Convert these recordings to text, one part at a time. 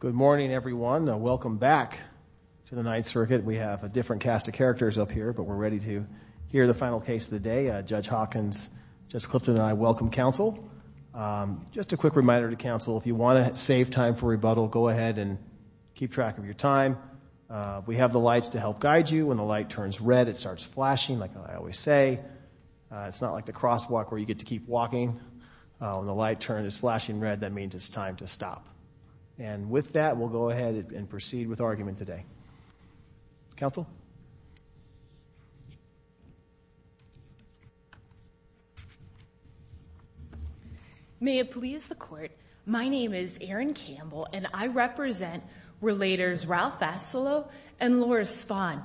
Good morning, everyone. Welcome back to the Ninth Circuit. We have a different cast of characters up here, but we're ready to hear the final case of the day. Judge Hawkins, Judge Clifton and I welcome counsel. Just a quick reminder to counsel, if you want to save time for rebuttal, go ahead and keep track of your time. We have the lights to help guide you. When the light turns red, it starts flashing like I always say. It's not like the crosswalk where you get to keep walking. When the light turns flashing red, that means it's time to stop. And with that, we'll go ahead and proceed with our argument today. Counsel? May it please the Court, my name is Erin Campbell and I represent Relators Ralph Vassallo and Laura Spahn.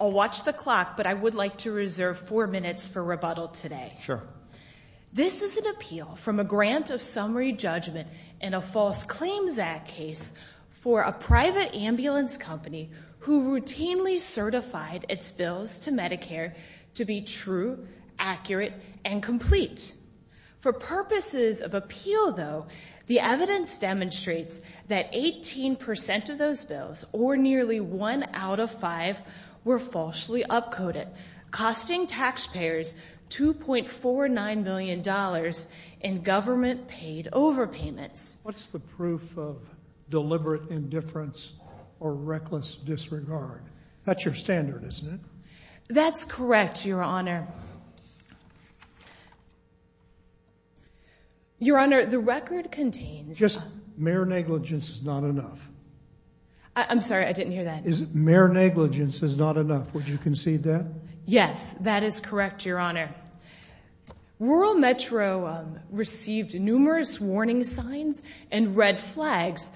I'll watch the clock, but I would like to reserve four minutes for rebuttal today. This is an appeal from a grant of summary judgment in a False Claims Act case for a private ambulance company who routinely certified its bills to Medicare to be true, accurate and complete. For purposes of appeal, though, the evidence demonstrates that 18% of those bills, or nearly one out of five, were falsely upcoded, costing taxpayers $2.49 million in government-paid overpayments. What's the proof of deliberate indifference or reckless disregard? That's your standard, isn't it? That's correct, Your Honor. Your negligence is not enough. I'm sorry, I didn't hear that. Mere negligence is not enough. Would you concede that? Yes, that is correct, Your Honor. Rural Metro received numerous warning signs and red flags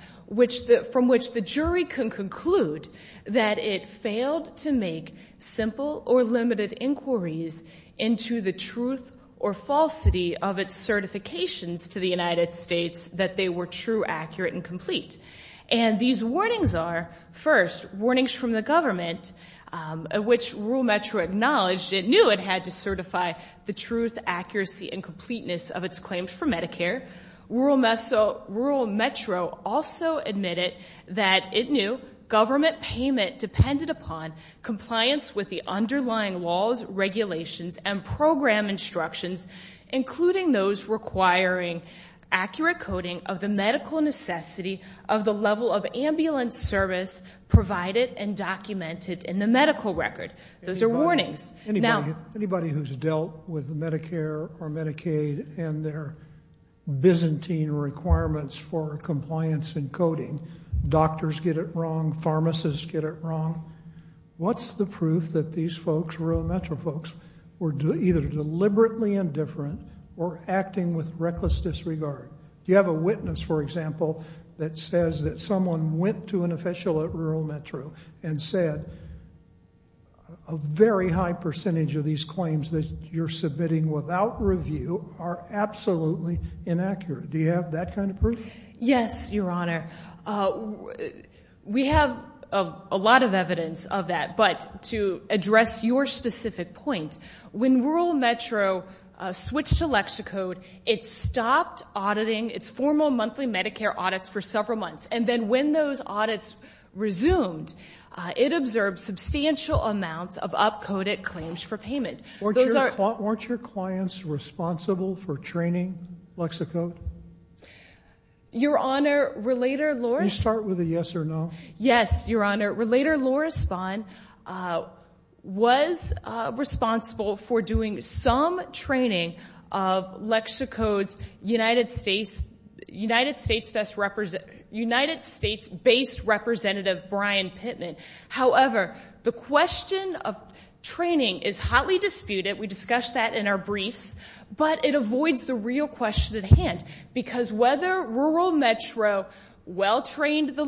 from which the jury can conclude that it failed to make simple or limited inquiries into the truth or falsity of its certifications to the United States that they were true, accurate and complete. And these warnings are, first, warnings from the government, which Rural Metro acknowledged it knew it had to certify the truth, accuracy and completeness of its claims for Medicare. Rural Metro also admitted that it knew government payment depended upon compliance with the underlying laws, regulations and program instructions, including those requiring accurate coding of the medical necessity of the level of ambulance service provided and documented in the medical record. Those are warnings. Anybody who's dealt with Medicare or Medicaid and their Byzantine requirements for compliance and coding, doctors get it wrong, pharmacists get it wrong. What's the proof that these claims are different or acting with reckless disregard? Do you have a witness, for example, that says that someone went to an official at Rural Metro and said a very high percentage of these claims that you're submitting without review are absolutely inaccurate? Do you have that kind of proof? Yes, Your Honor. We have a lot of evidence of that, but to address your specific point, when Rural Metro switched to Lexicode, it stopped auditing its formal monthly Medicare audits for several months. And then when those audits resumed, it observed substantial amounts of up-coded claims for payment. Weren't your clients responsible for training Lexicode? Your Honor, Relator Loris... Can you start with a yes or no? Yes, Your Honor. Relator Loris Vaughn was responsible for doing some training of Lexicode's United States-based representative, Brian Pittman. However, the question of training is hotly disputed. We discussed that in our briefs. But it avoids the real question at trained the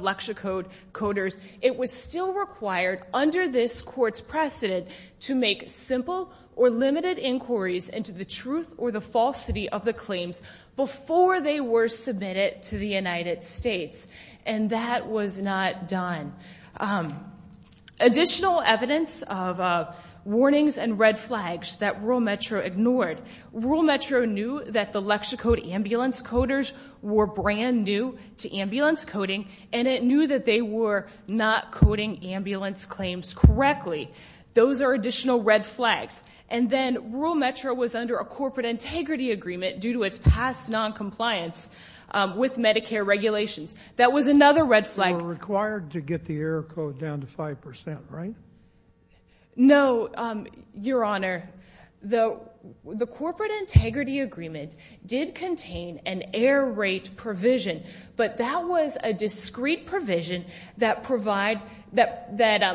Lexicode coders, it was still required under this court's precedent to make simple or limited inquiries into the truth or the falsity of the claims before they were submitted to the United States. And that was not done. Additional evidence of warnings and red flags that Rural Metro ignored. Rural Metro knew that the Lexicode ambulance coders were brand new to ambulance coding, and it knew that they were not coding ambulance claims correctly. Those are additional red flags. And then Rural Metro was under a corporate integrity agreement due to its past noncompliance with Medicare regulations. That was another red flag. You were required to get the error code down to 5%, right? No, Your Honor. The corporate integrity agreement did contain an error rate provision, but that was a discrete provision that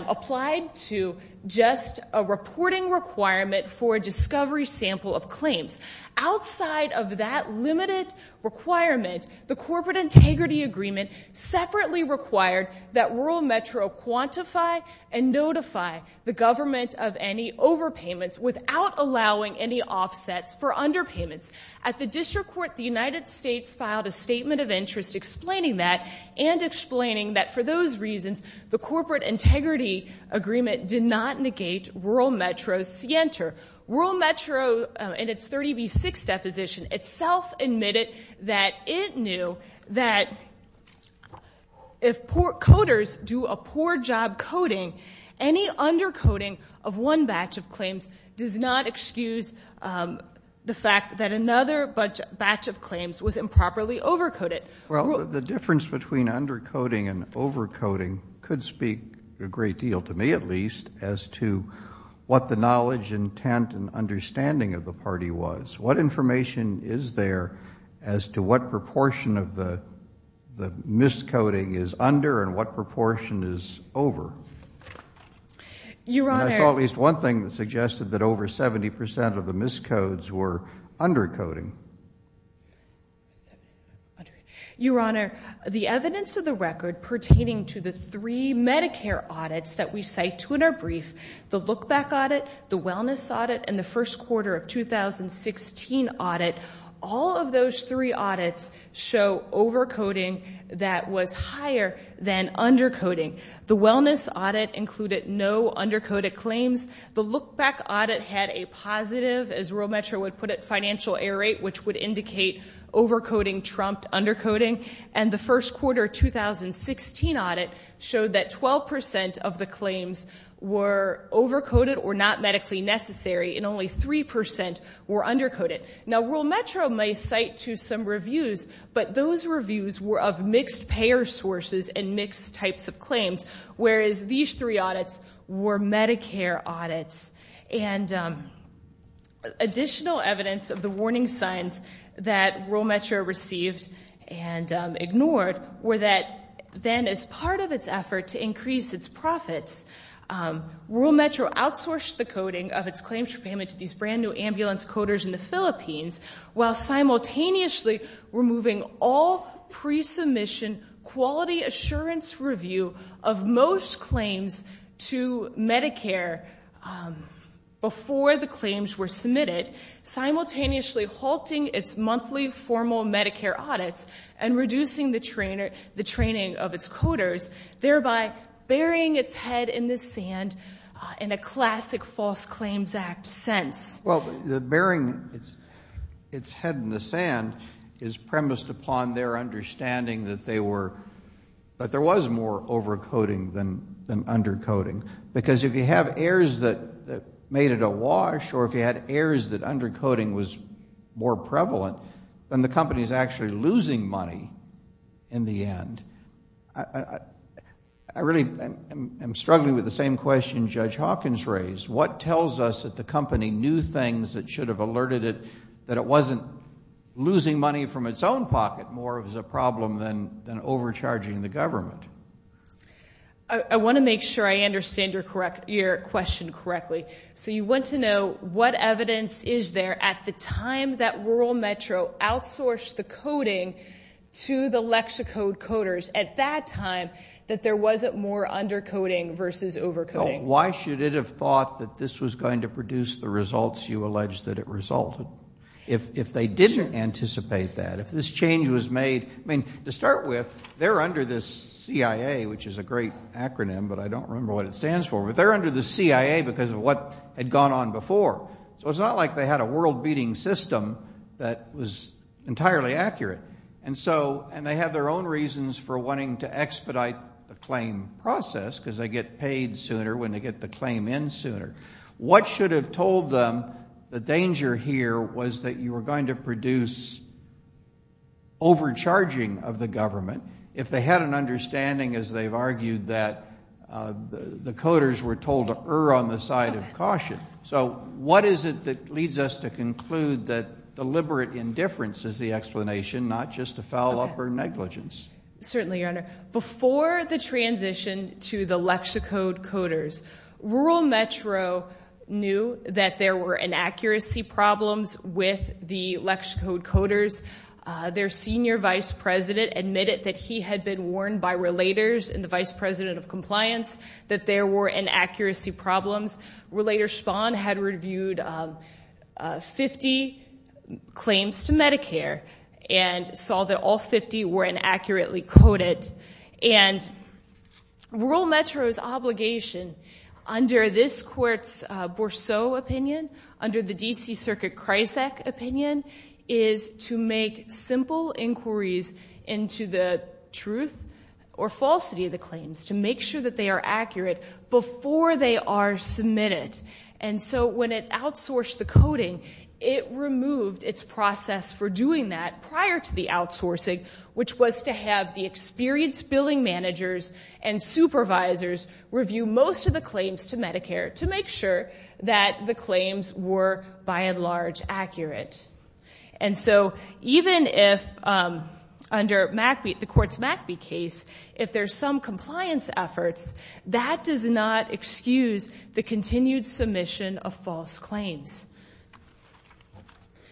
applied to just a reporting requirement for a discovery sample of claims. Outside of that limited requirement, the corporate integrity agreement separately required that Rural Metro quantify and notify the government of any overpayments without allowing any offsets for underpayments. At the district court, the United States filed a statement of interest explaining that and explaining that for those reasons, the corporate integrity agreement did not negate Rural Metro's scienter. Rural Metro in its 30B6 deposition itself admitted that it knew that if coders do a poor job coding, any undercoding of one batch of claims does not excuse the fact that another batch of claims was improperly overcoded. The difference between undercoding and overcoding could speak a great deal, to me at least, as to what the knowledge, intent, and understanding of the party was. What information is there as to what proportion of the miscoding is under and what proportion is over? Your Honor... And I saw at least one thing that suggested that over 70% of the miscodes were undercoding. Your Honor, the evidence of the record pertaining to the three Medicare audits that we cite to in our brief, the look-back audit, the wellness audit, and the first quarter of 2016 audit, all of those three audits show overcoding that was higher than undercoding. The wellness audit included no undercoded claims. The look-back audit had a positive, as Rural Metro would put it, financial error rate, which would indicate overcoding trumped were overcoded or not medically necessary, and only 3% were undercoded. Now, Rural Metro may cite to some reviews, but those reviews were of mixed payer sources and mixed types of claims, whereas these three audits were Medicare audits. And additional evidence of the warning signs that Rural Metro received and ignored were that then as part of its effort to increase its profits, Rural Metro outsourced the coding of its claims for payment to these brand new ambulance coders in the Philippines, while simultaneously removing all pre-submission quality assurance review of most claims to Medicare before the claims were submitted, simultaneously halting its monthly formal Medicare audits and reducing the training of its coders, thereby burying its head in the sand in a classic False Claims Act sense. Well, the burying its head in the sand is premised upon their understanding that there was more overcoding than undercoding, because if you have errors that made it awash or if the company is actually losing money in the end, I really am struggling with the same question Judge Hawkins raised. What tells us that the company knew things that should have alerted it that it wasn't losing money from its own pocket more as a problem than overcharging the government? I want to make sure I understand your question correctly. So you want to know what evidence is there at the time that Rural Metro outsourced the coding to the Lexicode coders at that time that there wasn't more undercoding versus overcoding. Why should it have thought that this was going to produce the results you allege that it resulted? If they didn't anticipate that, if this change was made, I mean, to start with, they're under this CIA, which is a great acronym, but I don't remember what it stands for, but they're what had gone on before. So it's not like they had a world-beating system that was entirely accurate, and they have their own reasons for wanting to expedite the claim process, because they get paid sooner when they get the claim in sooner. What should have told them the danger here was that you were going to produce overcharging of the government if they had an understanding, as they've argued, that the coders were told err on the side of caution. So what is it that leads us to conclude that deliberate indifference is the explanation, not just a foul-up or negligence? Certainly, Your Honor. Before the transition to the Lexicode coders, Rural Metro knew that there were inaccuracy problems with the Lexicode coders. Their senior vice president admitted that he had been warned by relators and the vice president that there were inaccuracy problems. Relator Spahn had reviewed 50 claims to Medicare and saw that all 50 were inaccurately coded. And Rural Metro's obligation under this court's Bourseau opinion, under the D.C. Circuit Kryzak opinion, is to make simple inquiries into the truth or falsity of the claims, to make sure that they are accurate before they are submitted. And so when it outsourced the coding, it removed its process for doing that prior to the outsourcing, which was to have the experienced billing managers and supervisors review most of the claims to Medicare to make sure that the claims were, by and large, accurate. And so even if, under the court's McBee case, if there's some compliance efforts, that does not excuse the continued submission of false claims.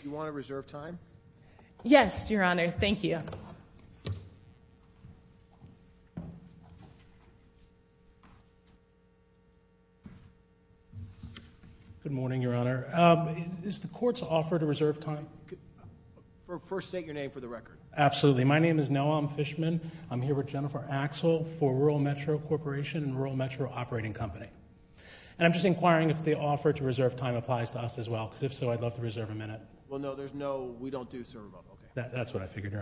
Do you want to reserve time? Yes, Your Honor. Thank you. Good morning, Your Honor. Is the court's offer to reserve time? First state your name for the record. Absolutely. My name is Noam Fishman. I'm here with Jennifer Axel for Rural Metro Corporation and Rural Metro Operating Company. And I'm just inquiring if the offer to reserve time applies to us as well, because if so, I'd love to reserve a minute. Well, no. There's no, we don't do serve up. Okay. That's what I figured, Your Honor.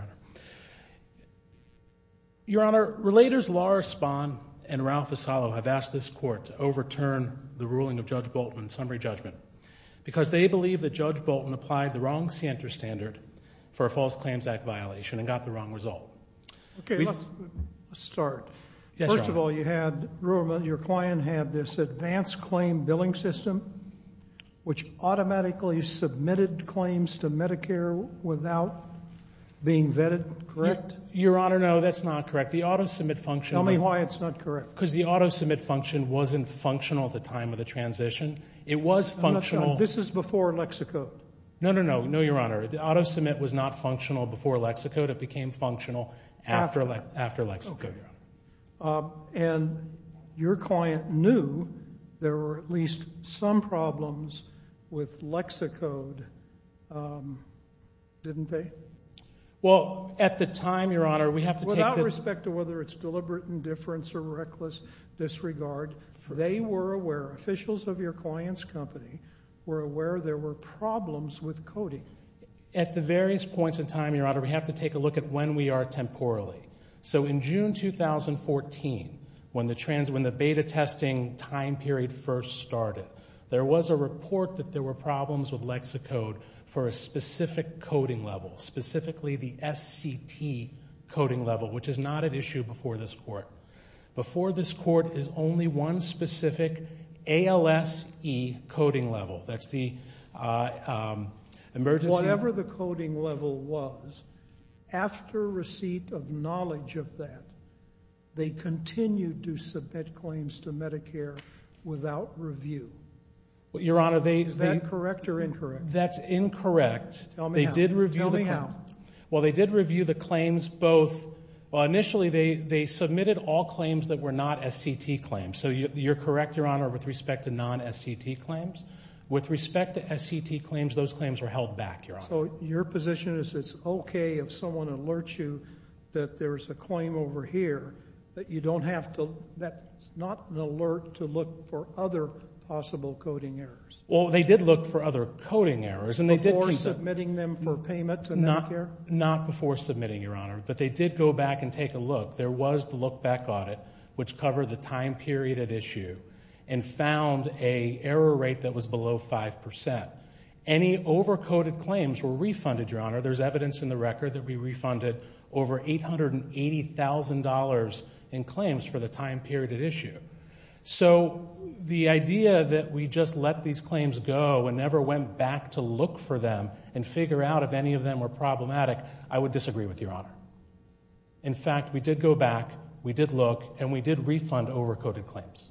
Your Honor, Relators Lara Spahn and Ralph Asallo have asked this court to overturn the ruling of Judge Bolton's summary judgment, because they believe that Judge Bolton applied the wrong scienter standard for a False Claims Act violation and got the wrong result. Okay. Let's start. Yes, Your Honor. First of all, you had, your client had this advanced claim billing system, which automatically submitted claims to Medicare without being vetted, correct? Your Honor, no. That's not correct. The auto-submit function... Tell me why it's not correct. Because the auto-submit function wasn't functional at the time of the transition. It was functional... I'm not sure. This is before Lexicode. No, no, no. No, Your Honor. The auto-submit was not functional before Lexicode. It became functional after Lexicode. Okay. And your client knew there were at least some problems with Lexicode, didn't they? Well, at the time, Your Honor, we have to take this... This regard. First of all... They were aware. Officials of your client's company were aware there were problems with coding. At the various points in time, Your Honor, we have to take a look at when we are temporally. So in June 2014, when the beta testing time period first started, there was a report that there were problems with Lexicode for a specific coding level, specifically the SCT coding level, which is not an issue before this Court. Before this Court is only one specific ALSE coding level. That's the emergency... Whatever the coding level was, after receipt of knowledge of that, they continued to submit claims to Medicare without review. Your Honor, they... Is that correct or incorrect? That's incorrect. Tell me how. Tell me how. Well, they did review the claims both... Well, initially, they submitted all claims that were not SCT claims. So you're correct, Your Honor, with respect to non-SCT claims. With respect to SCT claims, those claims were held back, Your Honor. So your position is it's okay if someone alerts you that there's a claim over here that you don't have to... That's not an alert to look for other possible coding errors. Well, they did look for other coding errors and they did keep them... Prior? Not before submitting, Your Honor. But they did go back and take a look. There was the look-back audit, which covered the time period at issue and found a error rate that was below 5%. Any over-coded claims were refunded, Your Honor. There's evidence in the record that we refunded over $880,000 in claims for the time period at issue. So the idea that we just let these claims go and never went back to look for them and figure out if any of them were problematic, I would disagree with, Your Honor. In fact, we did go back, we did look, and we did refund over-coded claims.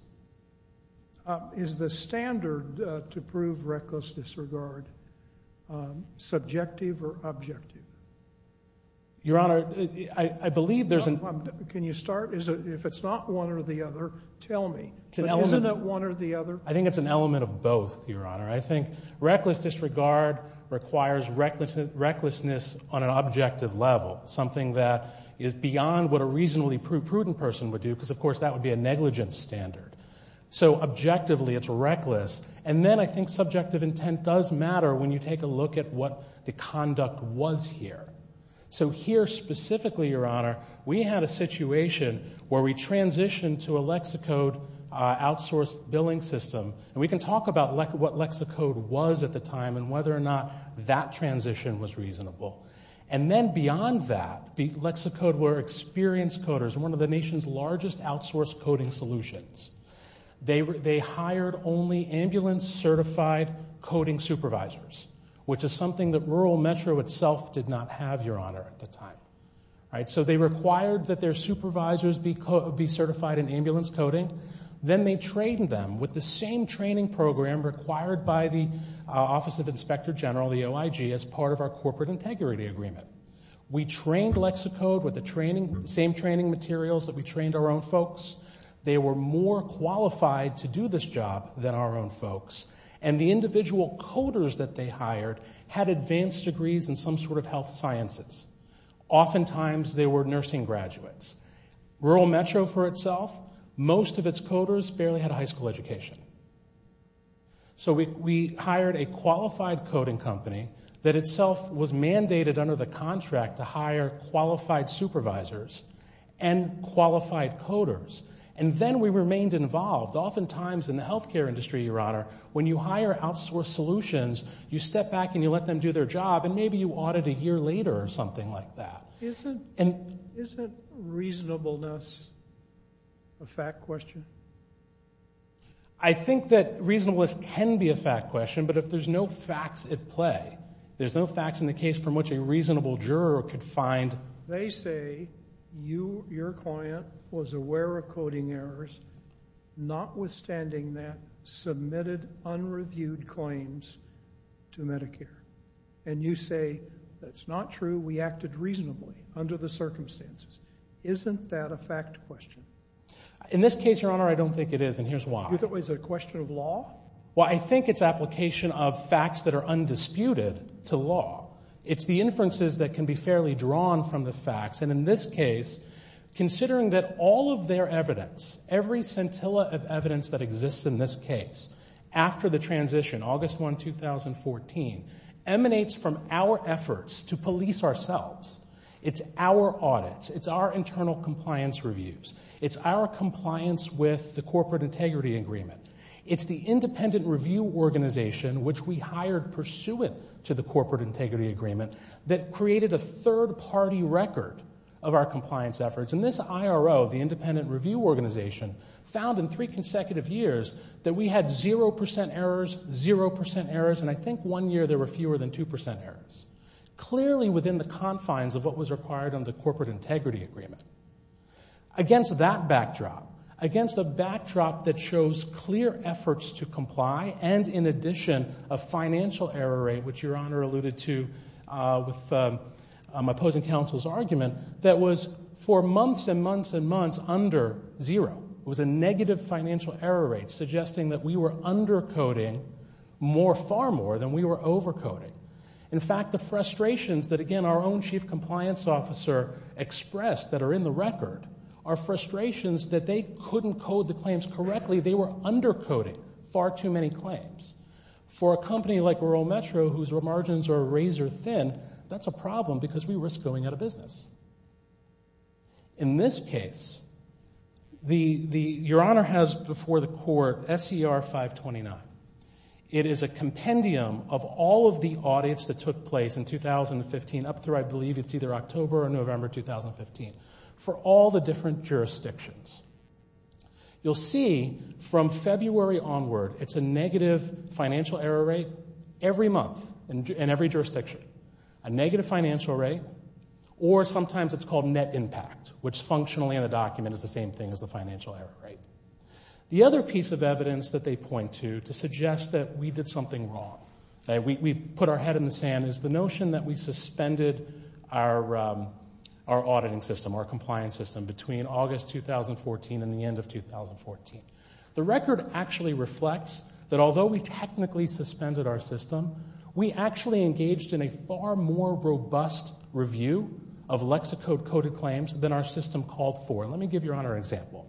Is the standard to prove reckless disregard subjective or objective? Your Honor, I believe there's... Can you start? If it's not one or the other, tell me. Isn't it one or the other? I think it's an element of both, Your Honor. I think reckless disregard requires recklessness on an objective level, something that is beyond what a reasonably prudent person would do, because, of course, that would be a negligence standard. So, objectively, it's reckless. And then I think subjective intent does matter when you take a look at what the conduct was here. So here, specifically, Your Honor, we had a situation where we transitioned to a lexicode outsourced billing system. And we can talk about what lexicode was at the time and whether or not that transition was reasonable. And then beyond that, lexicode were experienced coders, one of the nation's largest outsourced coding solutions. They hired only ambulance-certified coding supervisors, which is something that rural metro itself did not have, Your Honor, at the time, right? So they required that their supervisors be certified in ambulance coding. Then they trained them with the same training program required by the Office of Inspector General, the OIG, as part of our corporate integrity agreement. We trained lexicode with the same training materials that we trained our own folks. They were more qualified to do this job than our own folks. And the individual coders that they hired had advanced degrees in some sort of health sciences. Oftentimes, they were nursing graduates. Rural metro for itself, most of its coders barely had a high school education. So we hired a qualified coding company that itself was mandated under the contract to hire qualified supervisors and qualified coders. And then we remained involved. Oftentimes, in the healthcare industry, Your Honor, when you hire outsourced solutions, you step back and you let them do their job, and maybe you audit a year later or something like that. Isn't reasonableness a fact question? I think that reasonableness can be a fact question, but if there's no facts at play, there's no facts in the case from which a reasonable juror could find. They say, you, your client, was aware of coding errors, notwithstanding that, submitted unreviewed claims to Medicare. And you say, that's not true. We acted reasonably under the circumstances. Isn't that a fact question? In this case, Your Honor, I don't think it is, and here's why. You think it's a question of law? Well, I think it's application of facts that are undisputed to law. It's the inferences that can be fairly drawn from the facts. And in this case, considering that all of their evidence, every scintilla of evidence that exists in this case, after the transition, August 1, 2014, emanates from our efforts to police ourselves. It's our audits. It's our internal compliance reviews. It's our compliance with the Corporate Integrity Agreement. It's the Independent Review Organization, which we hired pursuant to the Corporate Integrity Agreement, that created a third-party record of our compliance efforts. And this IRO, the Independent Review Organization, found in three consecutive years that we had 0% errors, 0% errors, and I think one year there were fewer than 2% errors, clearly within the confines of what was required under the Corporate Integrity Agreement. Against that backdrop, against a backdrop that shows clear efforts to comply, and in addition, a financial error rate, which Your Honor alluded to with opposing counsel's argument, that was, for months and months and months, under zero. It was a negative financial error rate, suggesting that we were undercoding more, far more, than we were overcoding. In fact, the frustrations that, again, our own Chief Compliance Officer expressed that are in the record are frustrations that they couldn't code the claims correctly. They were undercoding far too many claims. For a company like Rural Metro, whose margins are razor-thin, that's a problem because we are just going out of business. In this case, Your Honor has before the Court SCR 529. It is a compendium of all of the audits that took place in 2015, up through I believe it's either October or November 2015, for all the different jurisdictions. You'll see from February onward, it's a negative financial error rate every month in every jurisdiction. A negative financial rate, or sometimes it's called net impact, which functionally in the document is the same thing as the financial error rate. The other piece of evidence that they point to, to suggest that we did something wrong, we put our head in the sand, is the notion that we suspended our auditing system, our compliance system, between August 2014 and the end of 2014. The record actually reflects that although we technically suspended our system, we actually engaged in a far more robust review of Lexicode-coded claims than our system called for. Let me give Your Honor an example.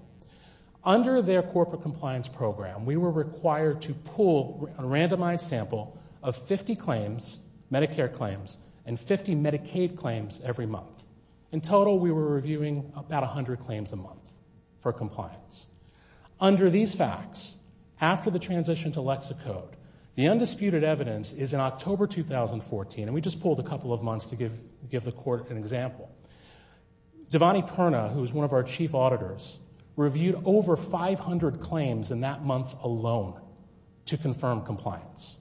Under their corporate compliance program, we were required to pull a randomized sample of 50 claims, Medicare claims, and 50 Medicaid claims every month. In total, we were reviewing about 100 claims a month for compliance. Under these facts, after the transition to Lexicode, the undisputed evidence is in October 2014, and we just pulled a couple of months to give the court an example. Devani Perna, who is one of our chief auditors, reviewed over 500 claims in that month alone to confirm compliance.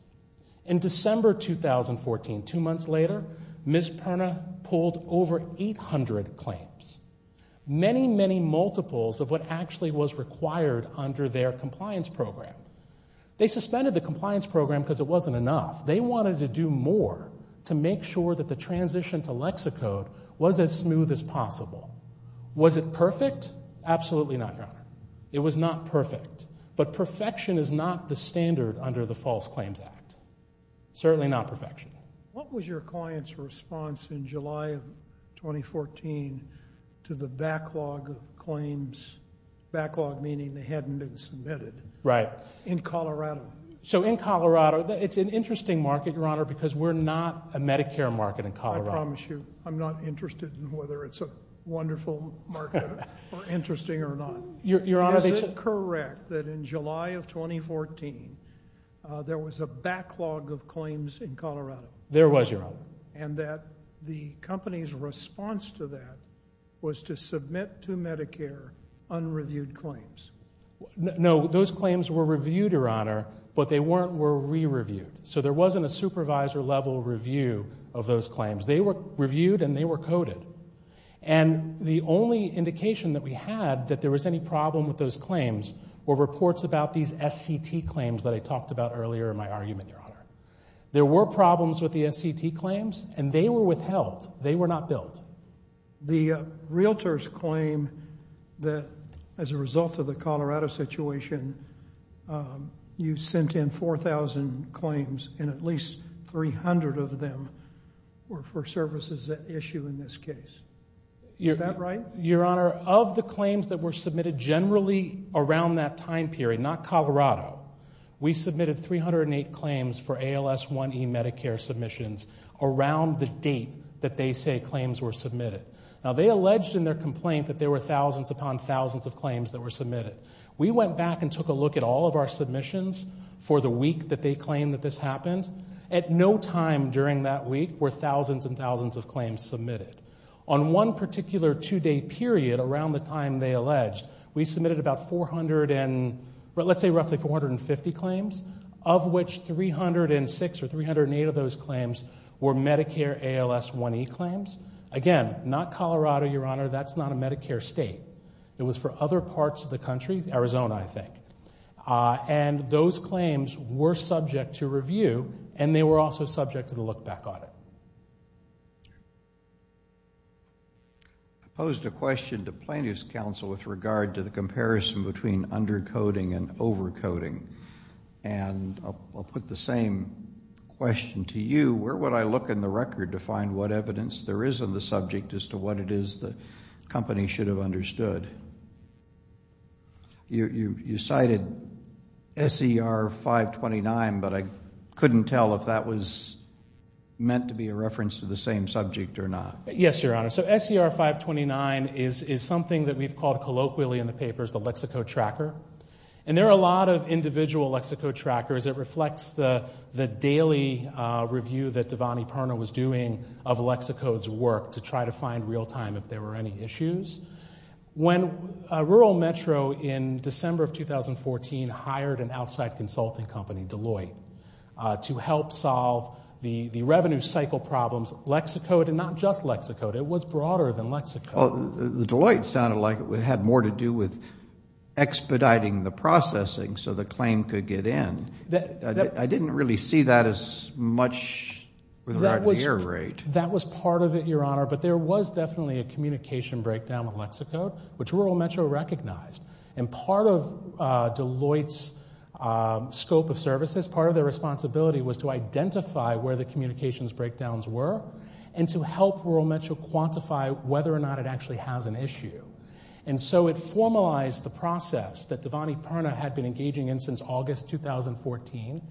In December 2014, two months later, Ms. Perna pulled over 800 claims, many, many multiples of what actually was required under their compliance program. They suspended the compliance program because it wasn't enough. They wanted to do more to make sure that the transition to Lexicode was as smooth as possible. Was it perfect? Absolutely not, Your Honor. It was not perfect. But perfection is not the standard under the False Claims Act. Certainly not perfection. What was your client's response in July of 2014 to the backlog of claims, backlog meaning they hadn't been submitted, in Colorado? So, in Colorado, it's an interesting market, Your Honor, because we're not a Medicare market in Colorado. I promise you, I'm not interested in whether it's a wonderful market or interesting or not. Is it correct that in July of 2014, there was a backlog of claims in Colorado? There was, Your Honor. And that the company's response to that was to submit to Medicare unreviewed claims? No, those claims were reviewed, Your Honor, but they weren't re-reviewed. So there wasn't a supervisor-level review of those claims. They were reviewed and they were coded. And the only indication that we had that there was any problem with those claims were reports about these SCT claims that I talked about earlier in my argument, Your Honor. There were problems with the SCT claims, and they were withheld. They were not billed. The realtors claim that as a result of the Colorado situation, you sent in 4,000 claims and at least 300 of them were for services at issue in this case. Is that right? Your Honor, of the claims that were submitted generally around that time period, not Colorado, we submitted 308 claims for ALS 1e Medicare submissions around the date that they say claims were submitted. Now, they alleged in their complaint that there were thousands upon thousands of claims that were submitted. We went back and took a look at all of our submissions for the week that they claimed that this happened. At no time during that week were thousands and thousands of claims submitted. On one particular two-day period around the time they alleged, we submitted about 400 and, let's say roughly 450 claims, of which 306 or 308 of those claims were Medicare ALS 1e claims. Again, not Colorado, Your Honor. That's not a Medicare state. It was for other parts of the country, Arizona, I think. And those claims were subject to review, and they were also subject to the look-back audit. I posed a question to Plaintiff's Counsel with regard to the comparison between undercoding and overcoding. And I'll put the same question to you. Where would I look in the record to find what evidence there is on the subject as to what it is the company should have understood? You cited SER 529, but I couldn't tell if that was meant to be a reference to the same subject or not. Yes, Your Honor. So SER 529 is something that we've called colloquially in the papers the lexicotracker. And there are a lot of individual lexicotrackers. It reflects the daily review that Devani Parna was doing of Lexicode's work to try to find real-time if there were any issues. When Rural Metro in December of 2014 hired an outside consulting company, Deloitte, to help solve the revenue cycle problems, Lexicode, and not just Lexicode, it was broader than Lexicode. The Deloitte sounded like it had more to do with expediting the processing so the claim could get in. I didn't really see that as much with regard to the error rate. That was part of it, Your Honor. But there was definitely a communication breakdown with Lexicode, which Rural Metro recognized. And part of Deloitte's scope of services, part of their responsibility was to identify where the communications breakdowns were and to help Rural Metro quantify whether or not it actually has an issue. And so it formalized the process that Devani Parna had been engaging in since August 2014.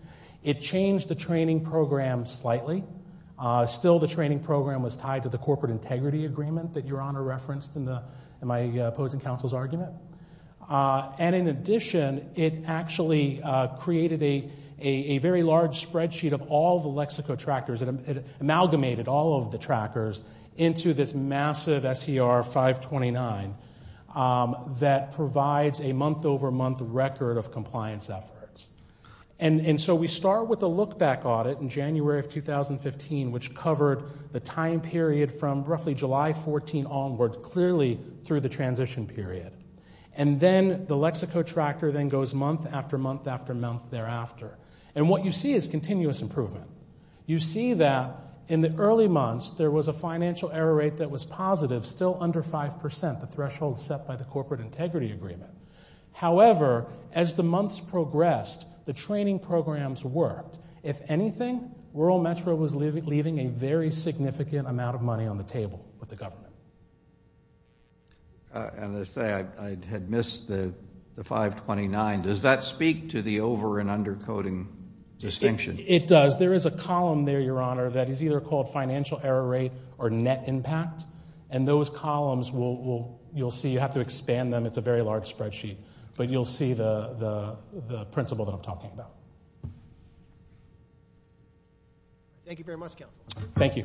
It changed the training program slightly. Still the training program was tied to the corporate integrity agreement that Your Honor referenced in my opposing counsel's argument. And in addition, it actually created a very large spreadsheet of all the lexicotrackers and it amalgamated all of the trackers into this massive SER 529 that provides a month-over-month record of compliance efforts. And so we start with a look-back audit in January of 2015, which covered the time period from roughly July 14 onward, clearly through the transition period. And then the Lexicotracker then goes month after month after month thereafter. And what you see is continuous improvement. You see that in the early months, there was a financial error rate that was positive, still under 5%, the threshold set by the corporate integrity agreement. However, as the months progressed, the training programs worked. If anything, Rural Metro was leaving a very significant amount of money on the table with the government. As I say, I had missed the 529. Does that speak to the over- and under-coding distinction? It does. There is a column there, Your Honor, that is either called financial error rate or net impact. And those columns will, you'll see, you have to expand them. It's a very large spreadsheet. But you'll see the principle that I'm talking about. Thank you very much, Counsel. Thank you. Thank you.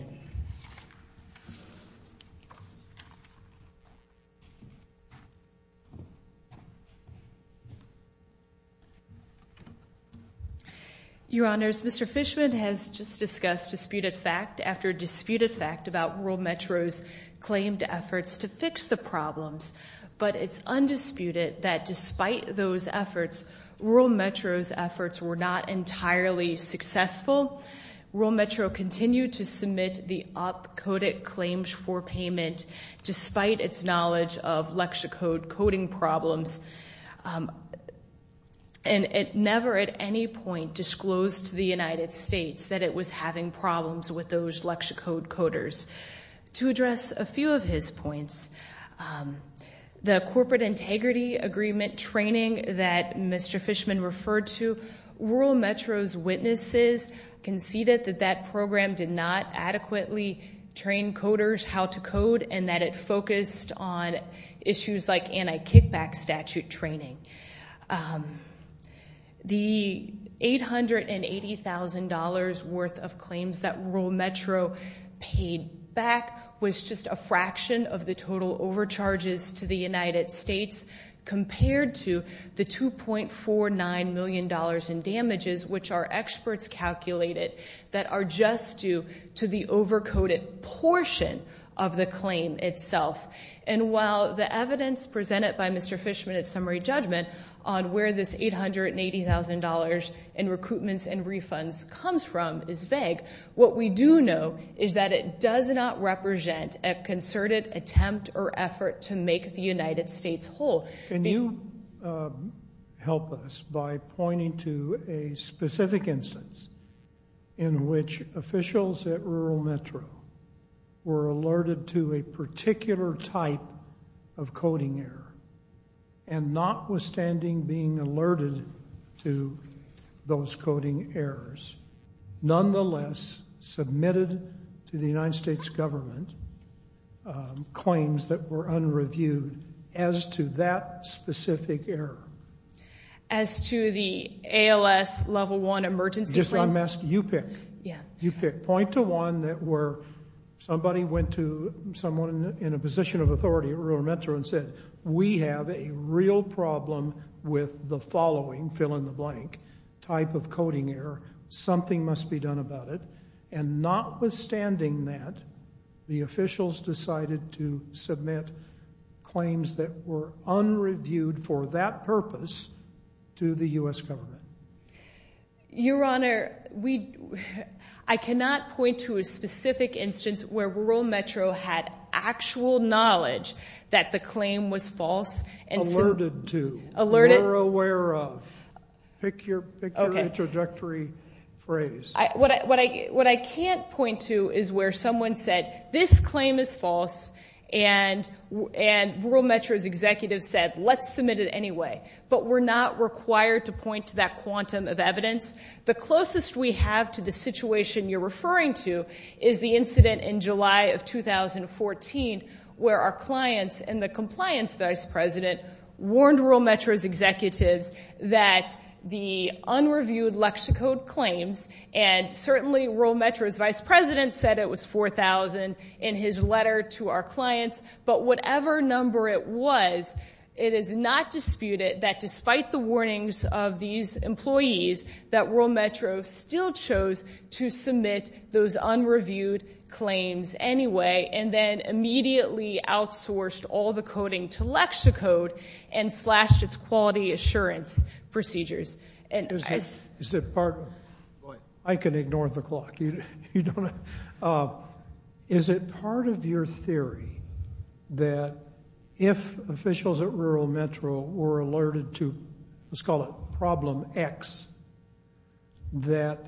Your Honors, Mr. Fishman has just discussed disputed fact after disputed fact about Rural Metro's claimed efforts to fix the problems. But it's undisputed that despite those efforts, Rural Metro's efforts were not entirely successful. Rural Metro continued to submit the op-coded claims for payment despite its knowledge of lexicode coding problems. And it never at any point disclosed to the United States that it was having problems with those lexicode coders. To address a few of his points, the corporate integrity agreement training that Mr. Fishman referred to, Rural Metro's witnesses conceded that that program did not adequately train coders how to code and that it focused on issues like anti-kickback statute training. The $880,000 worth of claims that Rural Metro paid back was just a fraction of the total overcharges to the United States compared to the $2.49 million in damages which our experts calculated that are just due to the over-coded portion of the claim itself. And while the evidence presented by Mr. Fishman at summary judgment on where this $880,000 in recoupments and refunds comes from is vague, what we do know is that it does not represent a concerted attempt or effort to make the United States whole. Can you help us by pointing to a specific instance in which officials at Rural Metro were alerted to a particular type of coding error and notwithstanding being alerted to those coding errors, nonetheless submitted to the United States government claims that were unreviewed as to that specific error? As to the ALS level one emergency claims? Yes, I'm asking you pick. You pick. Point to one that where somebody went to someone in a position of authority at Rural Metro and said, we have a real problem with the following fill-in-the-blank type of coding error. Something must be done about it. And notwithstanding that, the officials decided to submit claims that were unreviewed for that purpose to the U.S. government. Your Honor, I cannot point to a specific instance where Rural Metro had actual knowledge that the claim was false. Alerted to. Alerted. Aware of. Pick your trajectory phrase. What I can't point to is where someone said, this claim is false, and Rural Metro's executive said let's submit it anyway. But we're not required to point to that quantum of evidence. The closest we have to the situation you're referring to is the incident in July of 2014 where our clients and the compliance vice president warned Rural Metro's executives that the unreviewed lexicode claims, and certainly Rural Metro's vice president said it was 4,000 in his letter to our clients. But whatever number it was, it is not disputed that despite the warnings of these employees that Rural Metro still chose to submit those unreviewed claims anyway, and then immediately outsourced all the coding to Lexicode and slashed its quality assurance procedures. I can ignore the clock. Is it part of your theory that if officials at Rural Metro were alerted to let's call it problem X, that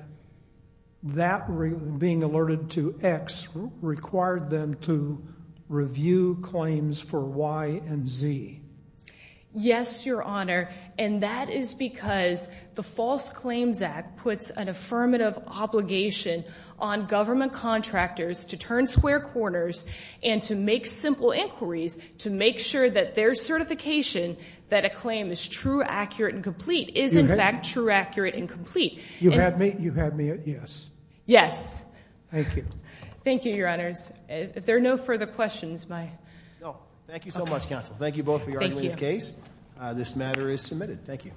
that being alerted to X required them to review claims for Y and Z? Yes, Your Honor, and that is because the False Claims Act puts an affirmative obligation on government contractors to turn square corners and to make simple inquiries to make sure that their certification that a claim is true, accurate, and complete is in fact true, accurate, and complete. You have me at yes. Yes. Thank you. Thank you, Your Honors. If there are no further questions, my... No. Thank you so much, counsel. Thank you both for your arguments. Thank you. Thank you. This matter is submitted. Thank you. All rise. The case is submitted.